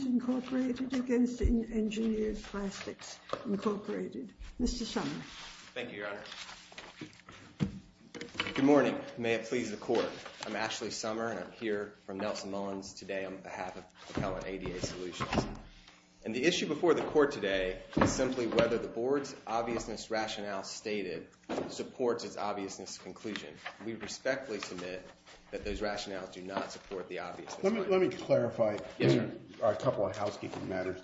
v. Engineered Plastics, Inc. Mr. Sommer. Thank you, Your Honor. Good morning. May it please the Court. I'm Ashley Sommer and I'm here from Nelson Mullins today on behalf of Appellant ADA Solutions. And the issue before the Court today is simply whether the Board's obviousness rationale stated supports its obviousness conclusion. We respectfully submit that those rationales do not support the obviousness. Let me clarify a couple of housekeeping matters.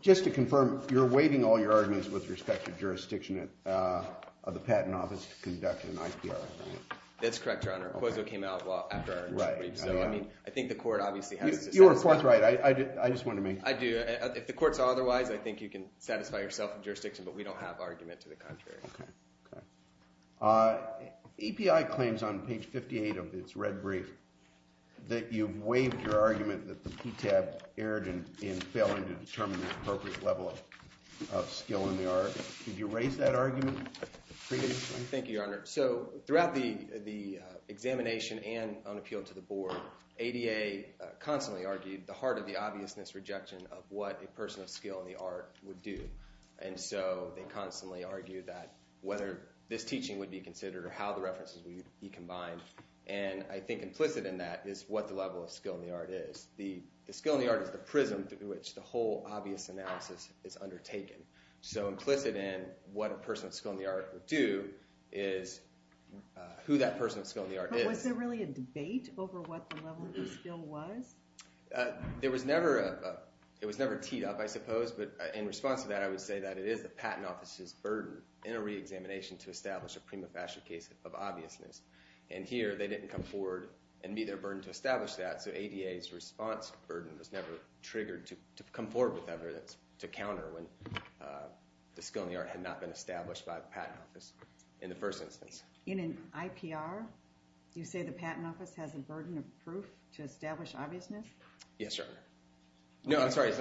Just to confirm, you're waiving all your arguments with respect to jurisdiction of the Patent Office to conduct an IPR? That's correct, Your Honor. The proposal came out well after our interview, so I mean I think the Court obviously has to satisfy. You're of course right. I just wanted to make sure. I do. If the Court saw otherwise, I think you can satisfy yourself in jurisdiction, but we don't have argument to the contrary. Okay. EPI claims on page 58 of its red brief that you've waived your argument that the PTAB erred in failing to determine the appropriate level of skill in the art. Did you raise that argument? Thank you, Your Honor. So throughout the examination and on appeal to the Board, ADA constantly argued the heart of the obviousness rejection of what a person of skill in the art would do. And so they this teaching would be considered or how the references would be combined. And I think implicit in that is what the level of skill in the art is. The skill in the art is the prism through which the whole obvious analysis is undertaken. So implicit in what a person of skill in the art would do is who that person of skill in the art is. Was there really a debate over what the level of skill was? There was never a, it was never teed up I suppose, but in response to that I would say that it is the Patent Office's burden in a re-examination to establish a prima facie case of obviousness. And here they didn't come forward and meet their burden to establish that, so ADA's response burden was never triggered to come forward with evidence to counter when the skill in the art had not been established by the Patent Office in the first instance. In an IPR, you say the Patent Office has a burden of proof to establish obviousness? Yes, Your Honor. No, I'm referring to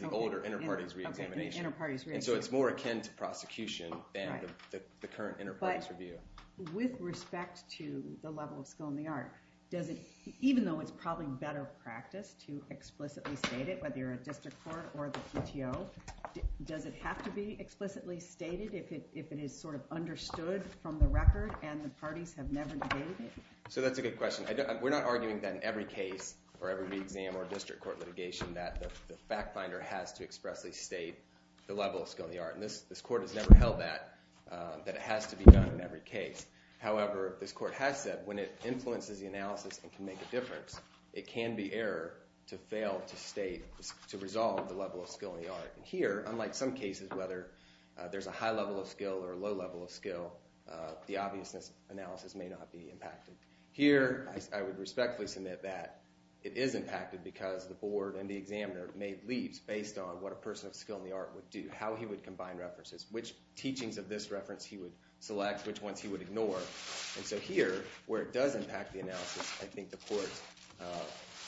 the older inter-parties re-examination. So it's more akin to prosecution than the current inter-parties review. With respect to the level of skill in the art, does it, even though it's probably better practice to explicitly state it, whether you're a district court or the PTO, does it have to be explicitly stated if it is sort of understood from the record and the parties have never debated it? So that's a good question. We're not arguing that in every case or every re-exam or district court litigation that the fact finder has to expressly state the level of skill in the art. And this court has never held that, that it has to be done in every case. However, this court has said when it influences the analysis and can make a difference, it can be error to fail to state, to resolve the level of skill in the art. And here, unlike some cases, whether there's a high level of skill or a low level of skill, the obviousness analysis may not be impacted. Here, I would respectfully submit that it is impacted because the board and the examiner made leaps based on what a person of skill in the art would do, how he would combine references, which teachings of this reference he would select, which ones he would ignore. And so here, where it does impact the analysis, I think the court's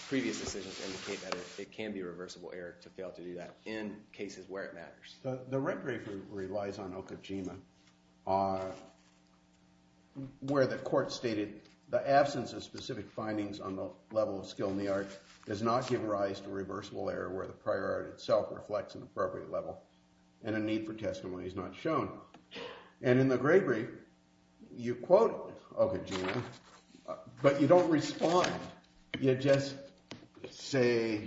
previous decisions indicate that it can be a reversible error to fail to do that in cases where it matters. The record group relies on the absence of specific findings on the level of skill in the art does not give rise to reversible error where the prior art itself reflects an appropriate level and a need for testimony is not shown. And in the gray brief, you quote, okay, but you don't respond. You just say,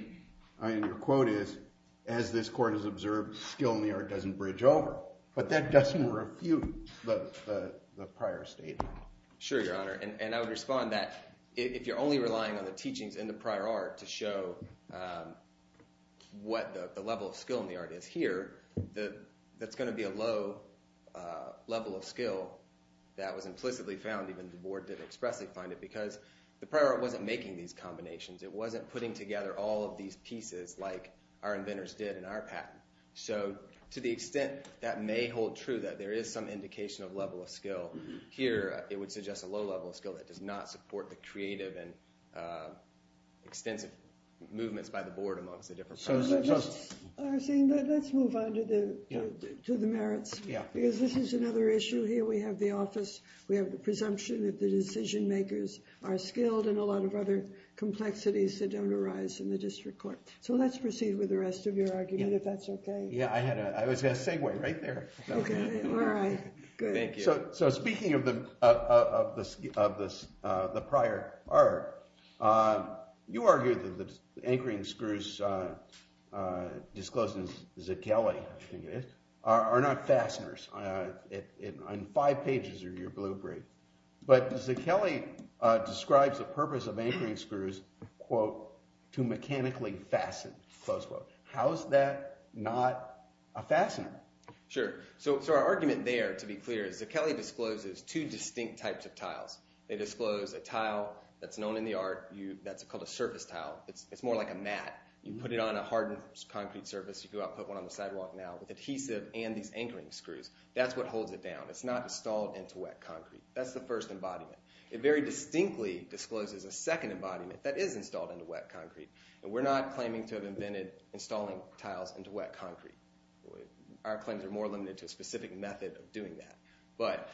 I mean, your quote is, as this court has observed, skill in the art doesn't bridge over, but that doesn't refute the sure, your honor. And I would respond that if you're only relying on the teachings in the prior art to show, um, what the level of skill in the art is here, the, that's going to be a low, uh, level of skill that was implicitly found. Even the board didn't expressly find it because the prior wasn't making these combinations. It wasn't putting together all of these pieces like our inventors did in our patent. So to the extent that may hold true, that there is some suggests a low level of skill that does not support the creative and, uh, extensive movements by the board amongst the different. Let's move on to the, to the merits. Yeah. Because this is another issue here. We have the office, we have the presumption that the decision makers are skilled and a lot of other complexities that don't arise in the district court. So let's proceed with the rest of your argument, if that's okay. Yeah, I had a, I was gonna segue right there. So, so speaking of the, of the, of this, uh, the prior art, uh, you argued that the anchoring screws, uh, uh, disclosed in Zichelli, I think it is, are not fasteners. Uh, in five pages of your blueprint. But Zichelli, uh, describes the purpose of anchoring screws, quote, to mechanically fasten, close quote. How is that not a fastener? Sure. So, so our argument there to be clear is Zichelli discloses two distinct types of tiles. They disclose a tile that's known in the art. You, that's called a surface tile. It's, it's more like a mat. You put it on a hardened concrete surface. You go out, put one on the sidewalk now with adhesive and these anchoring screws. That's what holds it down. It's not installed into wet concrete. That's the first embodiment. It very distinctly discloses a second embodiment that is installed into wet concrete. And we're not claiming to have prevented installing tiles into wet concrete. Our claims are more limited to a specific method of doing that. But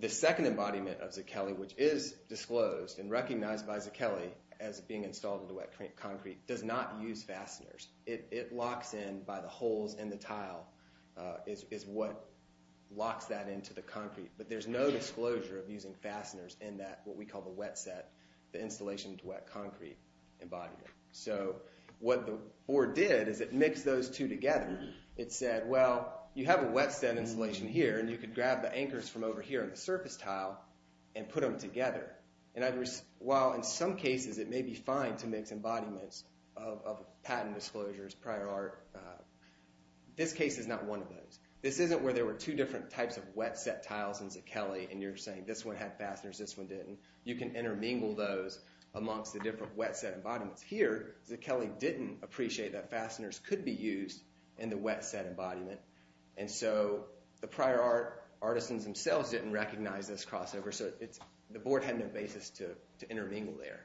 the second embodiment of Zichelli, which is disclosed and recognized by Zichelli as being installed into wet concrete, does not use fasteners. It, it locks in by the holes in the tile, uh, is, is what locks that into the concrete. But there's no disclosure of using fasteners in that, what we call the wet set, the installation to wet concrete embodiment. So what the board did is it mixed those two together. It said, well, you have a wet set installation here and you could grab the anchors from over here on the surface tile and put them together. And I, while in some cases it may be fine to mix embodiments of patent disclosures, prior art, this case is not one of those. This isn't where there were two different types of wet set tiles in Zichelli and you're saying this one had fasteners, this one didn't. You can intermingle those amongst the different wet set embodiments. Here, Zichelli didn't appreciate that fasteners could be used in the wet set embodiment. And so the prior art, artisans themselves didn't recognize this crossover. So it's, the board had no basis to, to intermingle there.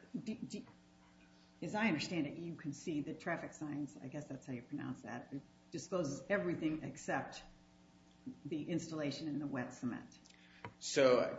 As I understand it, you concede that traffic signs, I guess that's how you pronounce that, disposes everything except the installation in the wet cement. So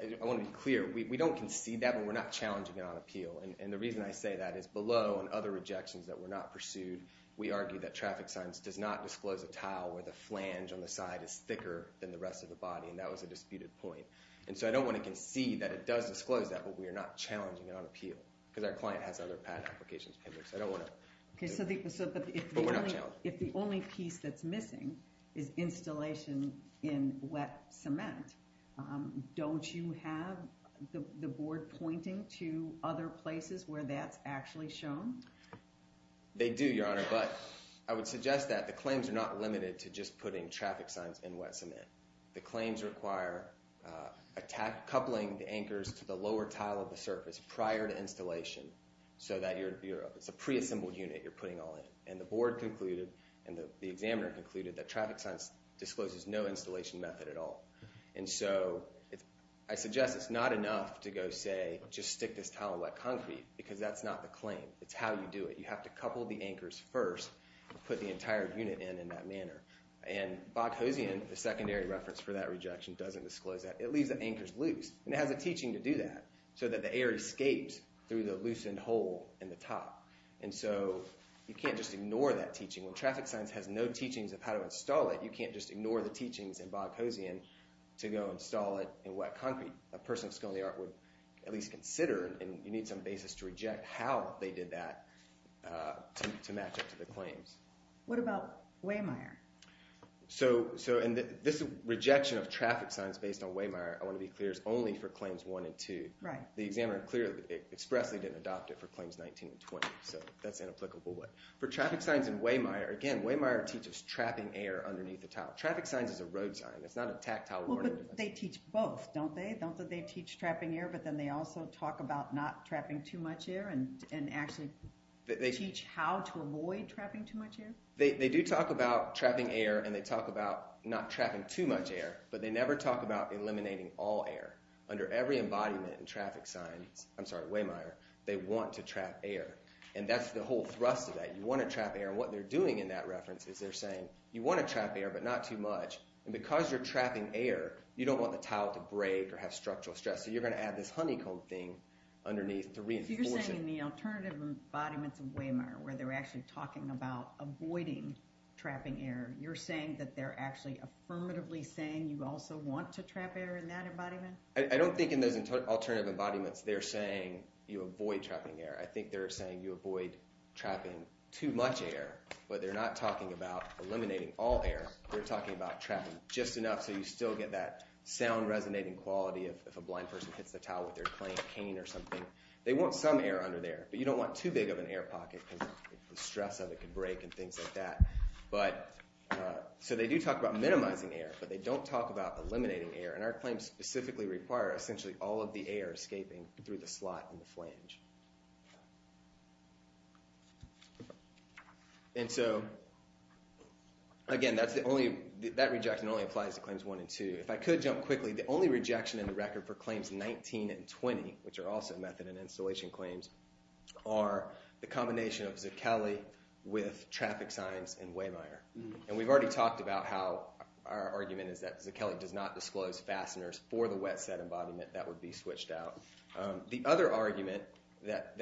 I want to be clear, we don't concede that and we're not challenging it on appeal. And the reason I say that is below and other rejections that were not pursued, we argued that traffic signs does not disclose a tile where the flange on the side is thicker than the rest of the body and that was a disputed point. And so I don't want to concede that it does disclose that, but we are not challenging it on appeal. Because our client has other patent applications pending, so I don't want to, but we're not challenging it. If the only piece that's missing is installation in wet cement, don't you have the board pointing to other places where that's actually shown? They do, Your Honor, but I would suggest that the claims are not limited to just putting traffic signs in wet cement. The claims require a tack coupling the anchors to the lower tile of the surface prior to installation so that you're, it's a pre-assembled unit you're putting all in. And the board concluded and the examiner concluded that traffic signs discloses no installation method at all. And so I suggest it's not enough to go say just stick this tile in wet concrete because that's not the claim. It's how you do it. You have to couple the anchors first, put the entire unit in in that manner. And Boghossian, the secondary reference for that rejection, doesn't disclose that. It leaves the anchors loose and it has a teaching to do that so that the air escapes through the loosened hole in the top. And so you can't just ignore that teaching. When traffic signs has no teachings of how to install it, you can't just ignore the go install it in wet concrete. A person of skill in the art would at least consider and you need some basis to reject how they did that to match up to the claims. What about Waymire? So, so and this rejection of traffic signs based on Waymire, I want to be clear, is only for claims one and two. Right. The examiner clearly expressly didn't adopt it for claims 19 and 20. So that's an applicable way. For traffic signs in Waymire, again, Waymire teaches trapping air underneath the tile. Traffic signs is a road sign. It's not a tactile order. They teach both, don't they? Don't they teach trapping air, but then they also talk about not trapping too much air and actually teach how to avoid trapping too much air? They do talk about trapping air and they talk about not trapping too much air, but they never talk about eliminating all air. Under every embodiment in traffic signs, I'm sorry, Waymire, they want to trap air. And that's the whole thrust of that. You want to trap air. What they're doing in that is you want to trap air, but not too much. And because you're trapping air, you don't want the tile to break or have structural stress. So you're going to add this honeycomb thing underneath to reinforce it. So you're saying in the alternative embodiments of Waymire, where they're actually talking about avoiding trapping air, you're saying that they're actually affirmatively saying you also want to trap air in that embodiment? I don't think in those alternative embodiments they're saying you avoid trapping air. I think they're saying you avoid trapping too much air, but they're not talking about eliminating all air. They're talking about trapping just enough so you still get that sound resonating quality of if a blind person hits the tile with their claim cane or something. They want some air under there, but you don't want too big of an air pocket because the stress of it could break and things like that. So they do talk about minimizing air, but they don't talk about eliminating air. And our claims specifically require essentially all of the air escaping through the slot in the flange. And so again, that's the only, that rejection only applies to claims one and two. If I could jump quickly, the only rejection in the record for claims 19 and 20, which are also method and installation claims, are the combination of Zucchelli with traffic signs and Waymire. And we've already talked about how our argument is that that's a wet set embodiment that would be switched out. The other argument that,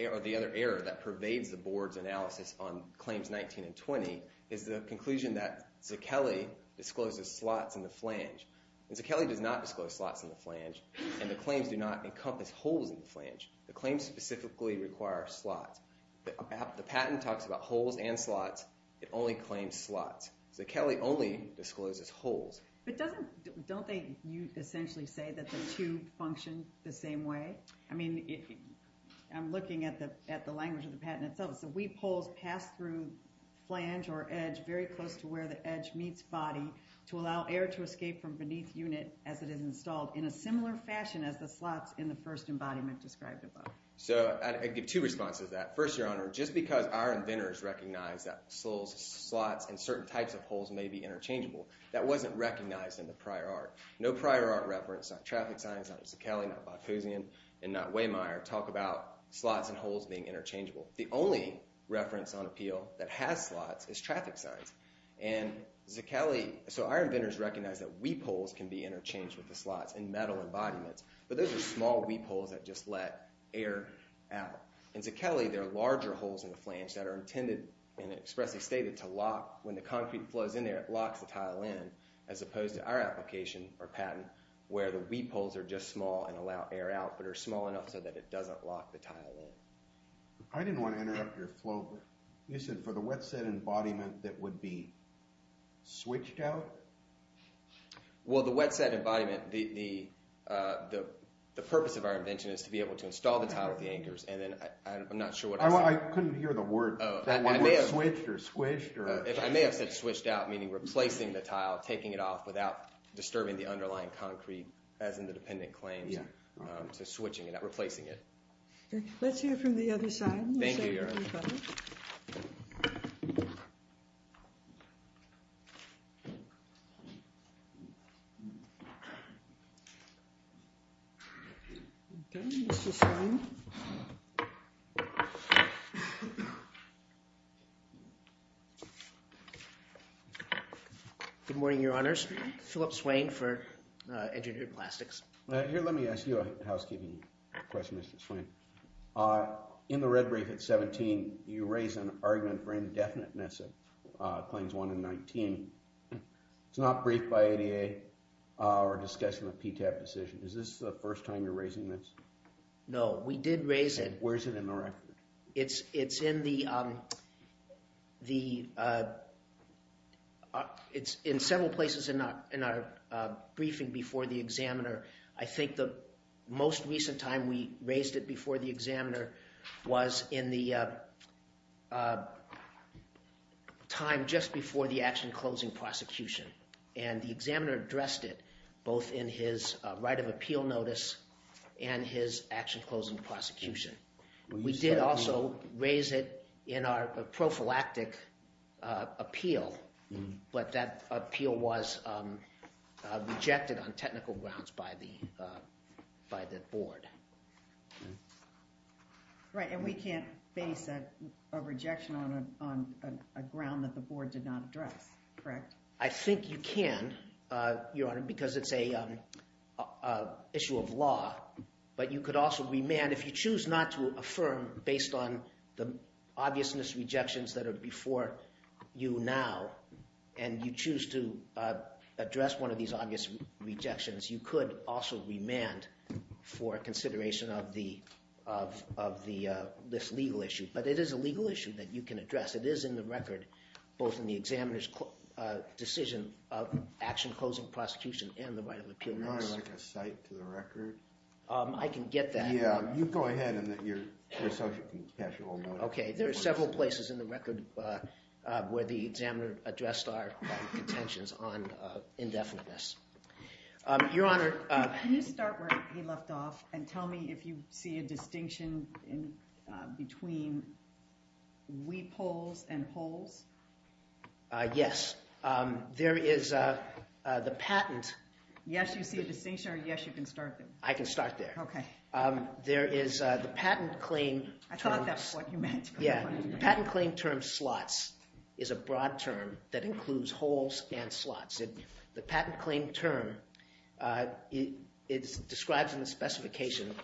or the other error that pervades the board's analysis on claims 19 and 20 is the conclusion that Zucchelli discloses slots in the flange. Zucchelli does not disclose slots in the flange, and the claims do not encompass holes in the flange. The claims specifically require slots. The patent talks about holes and don't they essentially say that the two function the same way? I mean, I'm looking at the language of the patent itself. So weep holes pass through flange or edge very close to where the edge meets body to allow air to escape from beneath unit as it is installed in a similar fashion as the slots in the first embodiment described above. So I give two responses to that. First, Your prior art reference on traffic signs on Zucchelli and not Waymire talk about slots and holes being interchangeable. The only reference on appeal that has slots is traffic signs. And Zucchelli, so our inventors recognize that weep holes can be interchanged with the slots in metal embodiments, but those are small weep holes that just let air out. In Zucchelli, there are larger holes in the flange that are intended and expressly stated to lock when the concrete flows in there. It locks the tile in as opposed to our application or patent where the weep holes are just small and allow air out but are small enough so that it doesn't lock the tile in. I didn't want to interrupt your flow, but you said for the wet set embodiment that would be switched out? Well, the wet set embodiment, the purpose of our invention is to be able to install the tile with the anchors and then I'm not sure what... I couldn't hear the word switched or squished. I may have said switched out, meaning replacing the tile, taking it off without disturbing the underlying concrete as in the dependent claims, so switching it out, replacing it. Let's hear from the other side. Good morning, your honors. Philip Swain for Engineering Plastics. Here, let me ask you a housekeeping question, Mr. Swain. In the red brief at 17, you raise an argument for indefiniteness of Claims 1 and 19. It's not briefed by ADA or discussed in the PTAP decision. Is this the first time you're raising this? No, we did raise it. Where is it in the record? It's in the the... it's in several places in our briefing before the examiner. I think the most recent time we raised it before the examiner was in the time just before the action closing prosecution and the examiner addressed it both in his right of appeal notice and his action closing prosecution. We did also raise it in our prophylactic appeal, but that appeal was rejected on technical grounds by the by the board. Right, and we can't base a rejection on a ground that the board did not address, correct? I think you can, your honor, because it's a issue of law, but you could also remand, if you choose not to affirm based on the obviousness rejections that are before you now, and you choose to address one of these obvious rejections, you could also remand for consideration of this legal issue, but it is a legal issue that you can address. It is in the record, both in the examiner's decision of action closing prosecution and the right of appeal notice. Okay, there are several places in the record where the examiner addressed our contentions on indefiniteness. Your honor, can you start where he left off and tell me if you see a distinction between weep holes and holes? Yes, there is the patent. Yes, you see a distinction. There is the patent claim. I thought that's what you meant. Yeah, patent claim term slots is a broad term that includes holes and slots. The patent claim term, it describes in the specification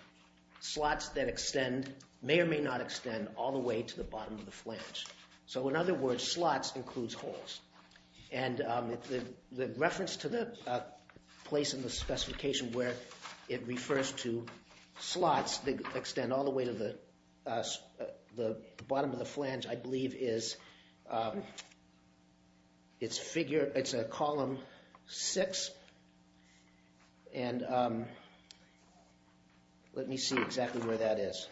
slots that extend, may or may not extend, all the way to the bottom of the flange. So in other words, slots includes holes, and the reference to the place in the specification where it refers to slots that extend all the way to the bottom of the flange, I believe, is it's figure, it's a column six, and let me see exactly where that is.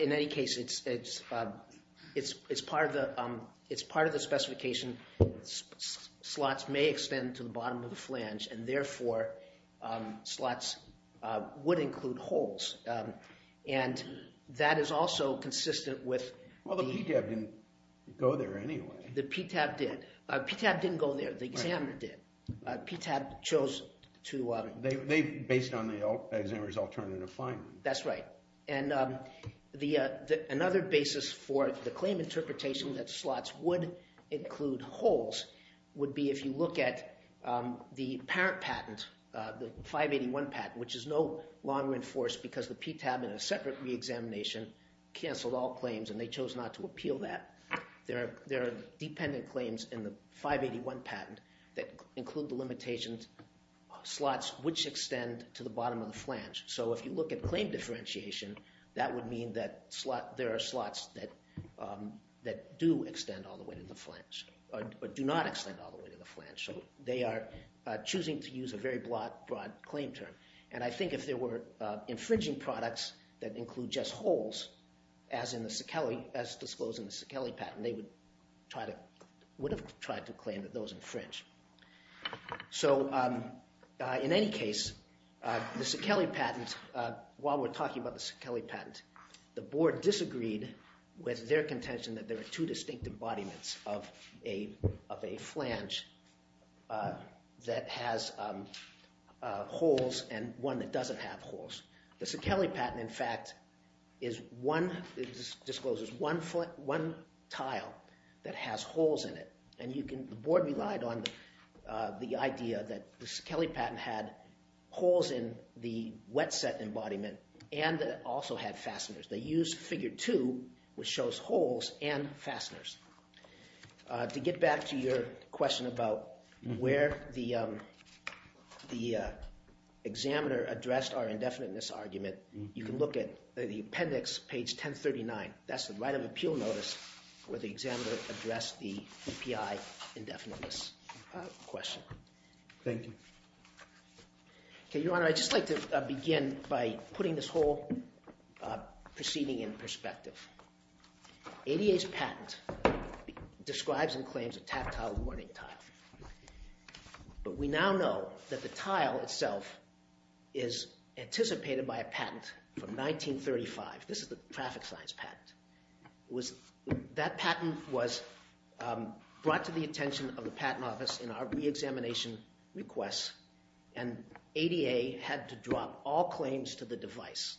In any case, it's part of the specification. Slots may extend to the bottom of the flange, and therefore, slots would include holes, and that is also consistent with... Well, the PTAB didn't go there anyway. The PTAB did. PTAB didn't go there. The examiner did. PTAB chose to... They based on the examiner's alternative finding. That's right, and another basis for the claim interpretation that slots would include holes would be if you look at the parent patent, the 581 patent, which is no longer enforced because the PTAB in a separate re-examination canceled all claims, and they chose not to appeal that. There are dependent claims in the 581 patent that include the limitations, slots which extend to the bottom of the flange, so if you look at claim differentiation, that would mean that there are slots that do extend all the way to the flange, or do not extend all the way to the flange, so they are choosing to use a very broad claim term, and I think if there were infringing products that include just holes, as in the Sakeli, as Sakeli patent, they would try to, would have tried to claim that those infringe. So in any case, the Sakeli patent, while we're talking about the Sakeli patent, the board disagreed with their contention that there are two distinct embodiments of a flange that has holes and one that doesn't have holes. The Sakeli patent, in fact, discloses one tile that has holes in it, and you can, the board relied on the idea that the Sakeli patent had holes in the wet set embodiment, and that it also had fasteners. They used figure two, which shows holes and fasteners. To get back to your question about where the indefiniteness argument, you can look at the appendix, page 1039. That's the right of appeal notice where the examiner addressed the EPI indefiniteness question. Thank you. Okay, Your Honor, I'd just like to begin by putting this whole proceeding in perspective. ADA's patent describes and claims a tactile warning tile, but we a patent from 1935. This is the traffic science patent. That patent was brought to the attention of the Patent Office in our re-examination requests, and ADA had to drop all claims to the device.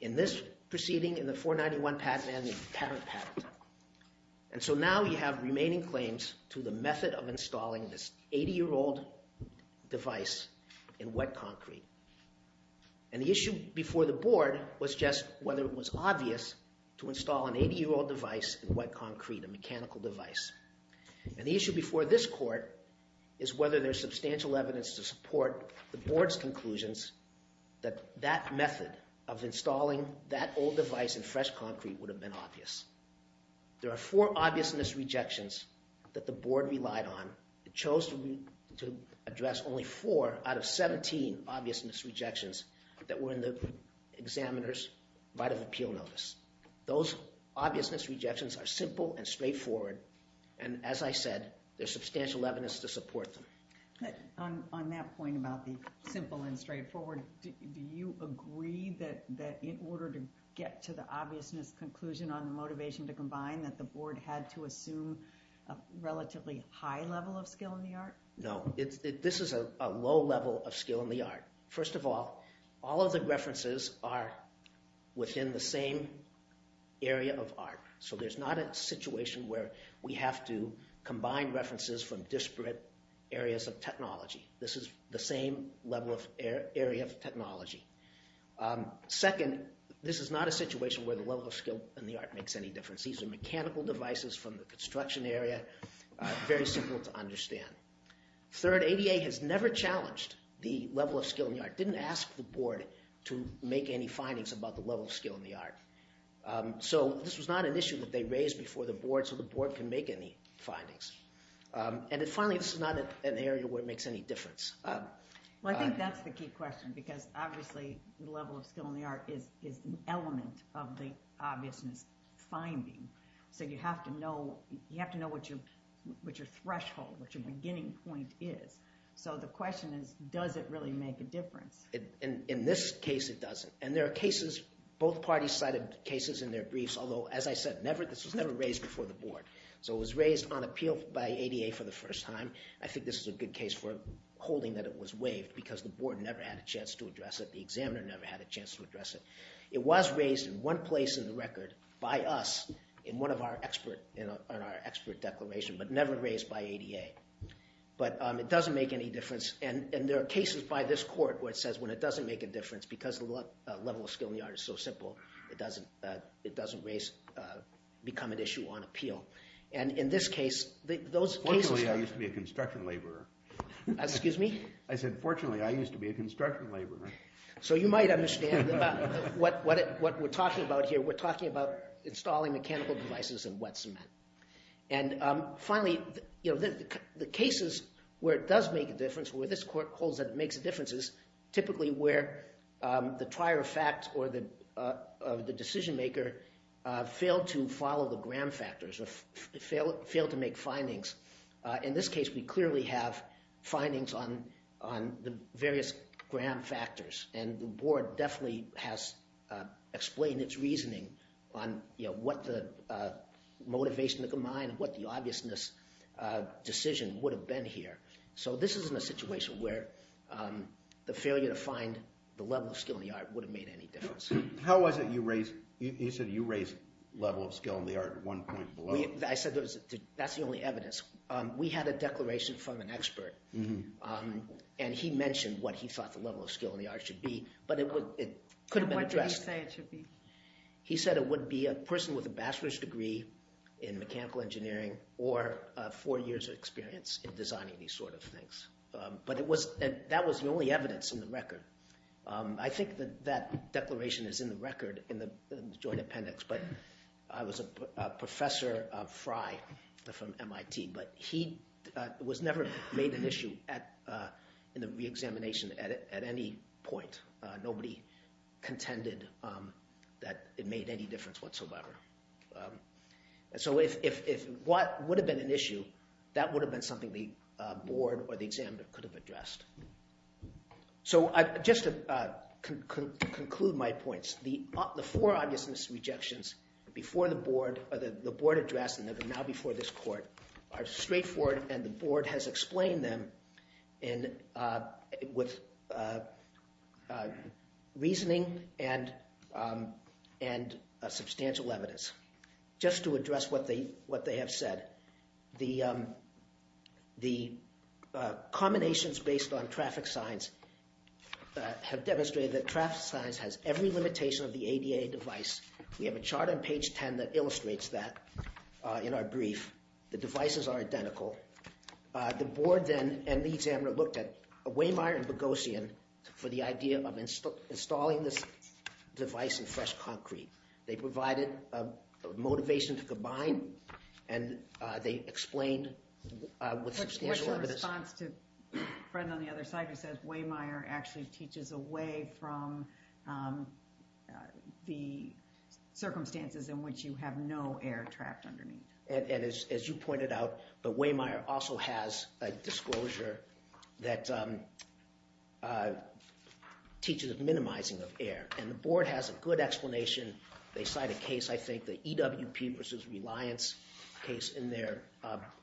In this proceeding, in the 491 patent, and the parent patent, and so now you have remaining claims to the method of And the issue before the board was just whether it was obvious to install an 80-year-old device in wet concrete, a mechanical device. And the issue before this court is whether there's substantial evidence to support the board's conclusions that that method of installing that old device in fresh concrete would have been obvious. There are four obvious misrejections that the board relied on. It chose to address only four out of 17 obvious misrejections that were in the examiner's right of appeal notice. Those obvious misrejections are simple and straightforward, and as I said, there's substantial evidence to support them. On that point about the simple and straightforward, do you agree that in order to get to the obvious misconclusion on the motivation to No. This is a low level of skill in the art. First of all, all of the references are within the same area of art, so there's not a situation where we have to combine references from disparate areas of technology. This is the same level of area of technology. Second, this is not a situation where the level of skill in the art makes any difference. These are mechanical devices from the construction area, very simple to understand. Third, ADA has never challenged the level of skill in the art, didn't ask the board to make any findings about the level of skill in the art. So this was not an issue that they raised before the board, so the board can make any findings. And finally, this is not an area where it makes any difference. Well, I think that's the key question because obviously the level of skill in the art is an element of the obviousness finding, so you have to know what your threshold, what your beginning point is. So the question is, does it really make a difference? In this case, it doesn't. And there are cases, both parties cited cases in their briefs, although as I said, this was never raised before the board. So it was raised on appeal by ADA for the first time. I think this is a good case for holding that it was waived because the board never had a chance to address it, the examiner never had a chance to address it. It was raised in one place in the record by us in one of our expert, in our expert declaration, but never raised by ADA. But it doesn't make any difference, and there are cases by this court where it says when it doesn't make a difference because the level of skill in the art is so simple, it doesn't become an issue on appeal. And in this case, those cases... Fortunately, I used to be a construction laborer. Excuse me? I said, fortunately, I used to be a construction laborer. So you might understand what we're talking about here. We're talking about installing mechanical devices in wet cement. And finally, you know, the cases where it does make a difference, where this court holds that it makes a difference, is typically where the trier of fact or the decision maker failed to follow the gram factors or failed to make findings. In this case, we clearly have definitely has explained its reasoning on, you know, what the motivation to combine, what the obviousness decision would have been here. So this isn't a situation where the failure to find the level of skill in the art would have made any difference. How was it you raised, you said you raised level of skill in the art at one point below? I said that's the only evidence. We had a declaration from an expert, and he mentioned what he thought the level of skill, it could have been addressed. He said it would be a person with a bachelor's degree in mechanical engineering or four years of experience in designing these sort of things. But it was, that was the only evidence in the record. I think that that declaration is in the record in the joint appendix, but I was a professor of Frye from MIT, but he was never made an issue at in the examination at any point. Nobody contended that it made any difference whatsoever. So if what would have been an issue, that would have been something the board or the examiner could have addressed. So just to conclude my points, the four obviousness rejections before the board, or the board addressed and now before this court, are straightforward and the board has explained them with reasoning and substantial evidence. Just to address what they have said, the combinations based on traffic signs have demonstrated that traffic signs has every limitation of the ADA device. We have a chart on page 10 that illustrates that in our brief. The board then and the examiner looked at Wehmeyer and Boghossian for the idea of installing this device in fresh concrete. They provided a motivation to combine and they explained with substantial evidence. What's your response to the friend on the other side who says Wehmeyer actually teaches away from the circumstances in which you have no air trapped underneath. And as you pointed out, the Wehmeyer also has a disclosure that teaches of minimizing of air and the board has a good explanation. They cite a case, I think, the EWP versus Reliance case in their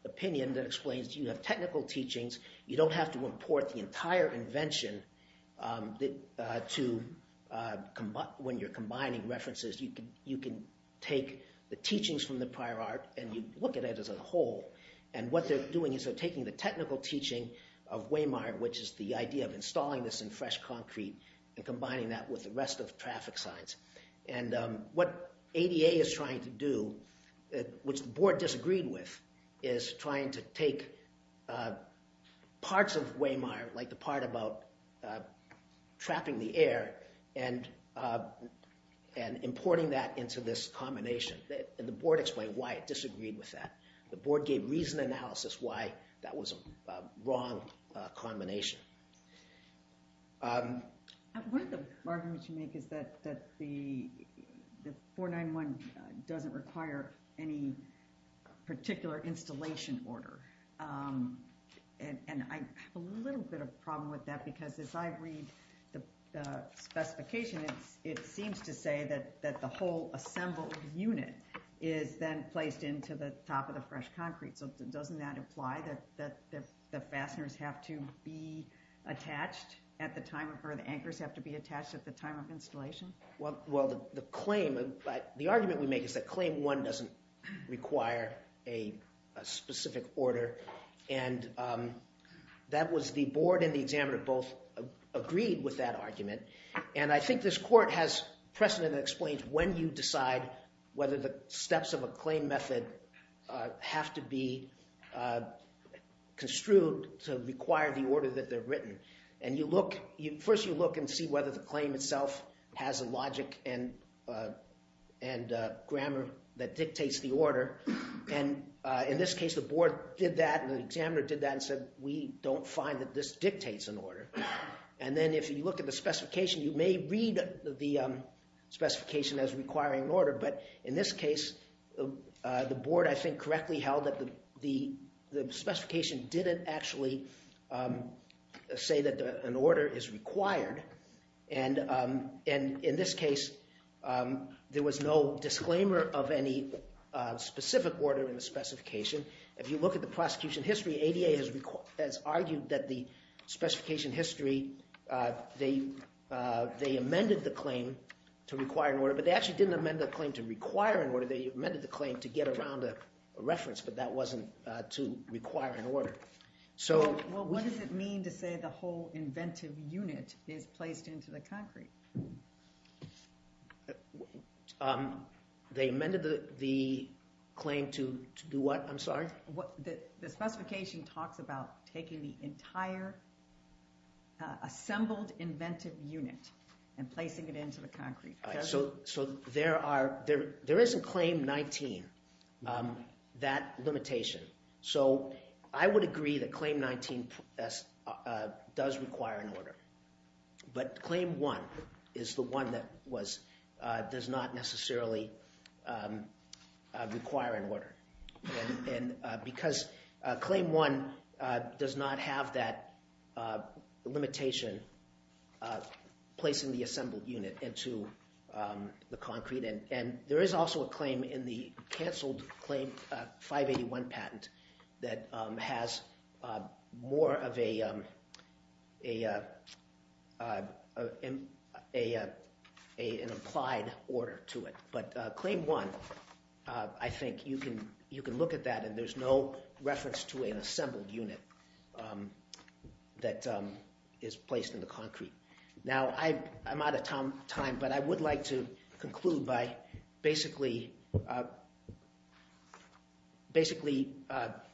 opinion that explains you have technical teachings, you don't have to import the entire invention that to when you're combining references, you can take the teachings from the prior art and you look at it as a whole and what they're doing is they're taking the technical teaching of Wehmeyer which is the idea of installing this in fresh concrete and combining that with the rest of traffic signs. And what ADA is trying to do, which the board disagreed with, is trying to take parts of Wehmeyer like the part about trapping the air and and importing that into this combination. And the board explained why it disagreed with that. The board gave reasoned analysis why that was a wrong combination. One of the arguments you make is that the 491 doesn't require any particular installation order and I have a little bit of problem with that because as I read the specification, it seems to say that the whole assembled unit is then placed into the top of the fresh concrete. So doesn't that imply that the fasteners have to be attached at the time, or the anchors have to be attached at the time of installation? Well the claim, the argument we make is that claim one doesn't require a specific order and that was the board and the examiner both agreed with that argument and I think this court has precedent that explains when you decide whether the steps of a claim method have to be construed to require the order that they're written. And you look, first you look and see whether the claim itself has a logic and grammar that dictates the order and in this case the board did that and the examiner did that and said we don't find that this dictates an order. And then if you look at the specification, you may read the specification as requiring an order but in this case the board I think correctly held that the specification didn't actually say that an order is required and in this case there was no disclaimer of any specific order in the specification. If you look at the prosecution history, ADA has argued that the specification history, they amended the claim to require an order but they actually didn't amend the claim to require an order, they amended the claim to get around a reference but that wasn't to require an order. So what does it mean to say the whole inventive unit is placed into the concrete? They amended the claim to do what, I'm sorry? The specification talks about taking the entire assembled inventive unit and placing it into the concrete. So there isn't Claim 19, that limitation. So I would agree that Claim 19 does require an order but Claim 1 is the one that does not have that limitation placing the assembled unit into the concrete. And there is also a claim in the cancelled Claim 581 patent that has more of an implied order to it. But Claim 1, I think you can look at that and there's no reference to an assembled unit that is placed in the concrete. Now I'm out of time but I would like to conclude by basically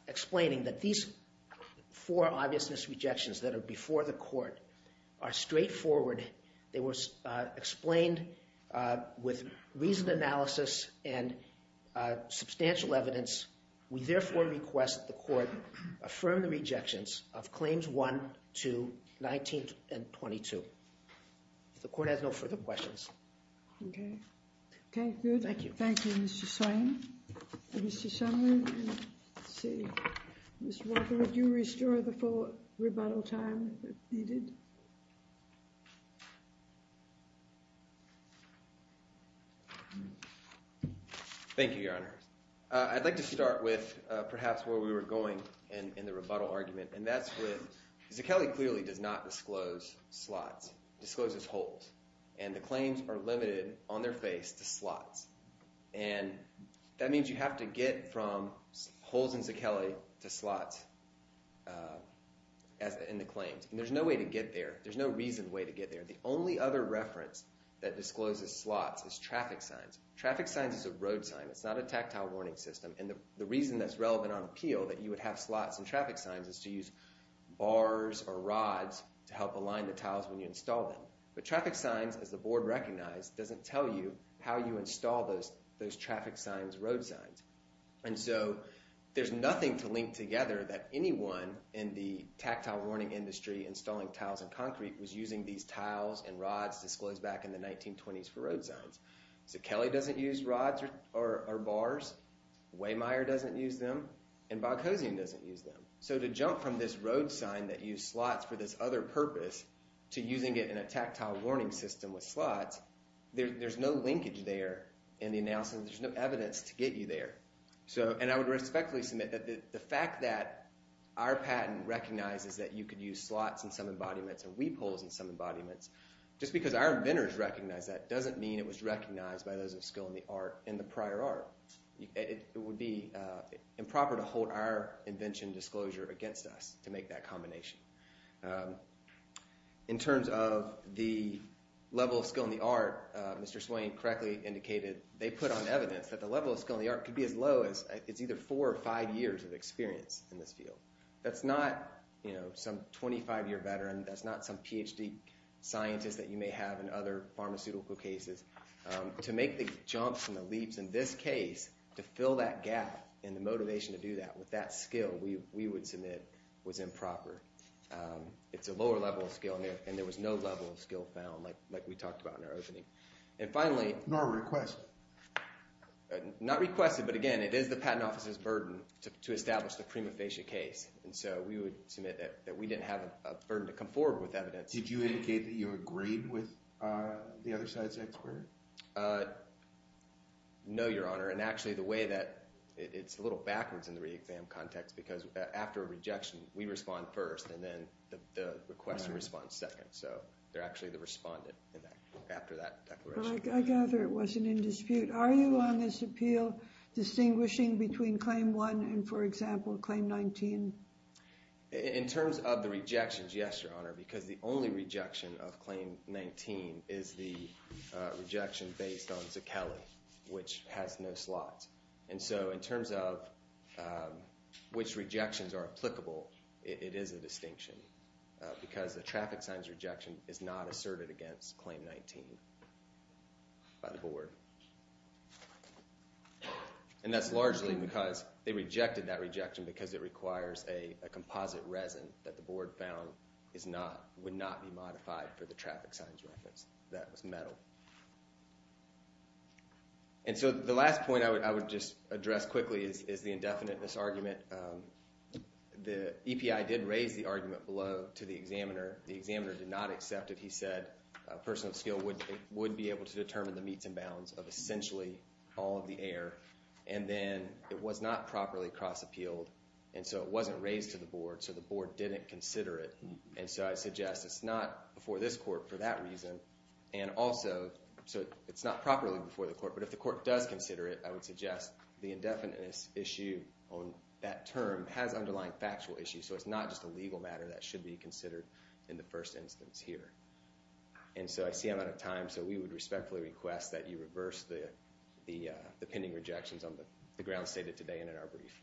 explaining that these four obviousness rejections that are before the court are straightforward. They were explained with reasoned analysis and substantial evidence. We therefore request the court affirm the rejections of Claims 1, 2, 19, and 22. If the court has no further questions. Thank you. Thank you Mr. Swain. Mr. Sumner, Mr. Walker would you restore the full rebuttal time? Thank you Your Honor. I'd like to start with perhaps where we were going in the rebuttal argument and that's with Zichelli clearly does not disclose slots. Discloses holes and the claims are limited on their face to slots and that there's no way to get there. There's no reason way to get there. The only other reference that discloses slots is traffic signs. Traffic signs is a road sign. It's not a tactile warning system and the reason that's relevant on appeal that you would have slots and traffic signs is to use bars or rods to help align the tiles when you install them. But traffic signs as the board recognized doesn't tell you how you install those those traffic signs road signs. And so there's nothing to link together that anyone in the tactile warning industry installing tiles and concrete was using these tiles and rods disclosed back in the 1920s for road signs. Zichelli doesn't use rods or bars, Waymire doesn't use them, and Boghossian doesn't use them. So to jump from this road sign that use slots for this other purpose to using it in a tactile warning system with slots, there's no linkage there in the analysis. There's no evidence to get you there. So and I would respectfully submit that the fact that our patent recognizes that you could use slots in some embodiments and weep holes in some embodiments, just because our inventors recognize that doesn't mean it was recognized by those of skill in the art in the prior art. It would be improper to hold our invention disclosure against us to make that combination. In terms of the level of skill in the art, Mr. Swain correctly indicated they put on evidence that the level of skill in the art could be as That's not, you know, some 25-year veteran, that's not some PhD scientist that you may have in other pharmaceutical cases. To make the jumps and the leaps in this case, to fill that gap in the motivation to do that with that skill, we would submit was improper. It's a lower level of skill and there was no level of skill found like we talked about in our opening. And finally, not requested but again it is the patent officer's burden to establish the prima facie case and so we would submit that we didn't have a burden to come forward with evidence. Did you indicate that you agreed with the other side's expert? No, Your Honor, and actually the way that it's a little backwards in the re-exam context because after a rejection we respond first and then the request and response second, so they're actually the respondent after that. I gather it wasn't in dispute. Are you on this appeal distinguishing between claim one and for In terms of the rejections, yes, Your Honor, because the only rejection of claim 19 is the rejection based on Zucchelli, which has no slots. And so in terms of which rejections are applicable, it is a distinction because the traffic signs rejection is not asserted against claim 19 by the board. And that's largely because they rejected that rejection because it requires a composite resin that the board found is not, would not be modified for the traffic signs reference. That was metal. And so the last point I would just address quickly is the indefiniteness argument. The EPI did raise the argument below to the examiner. The examiner did not accept it. He said a person of skill would be able to it was not properly cross appealed and so it wasn't raised to the board so the board didn't consider it. And so I suggest it's not before this court for that reason and also so it's not properly before the court but if the court does consider it I would suggest the indefiniteness issue on that term has underlying factual issues so it's not just a legal matter that should be considered in the first instance here. And so I see I'm out of time so we would respectfully request that you reverse the the pending rejections on the grounds stated today and in our brief.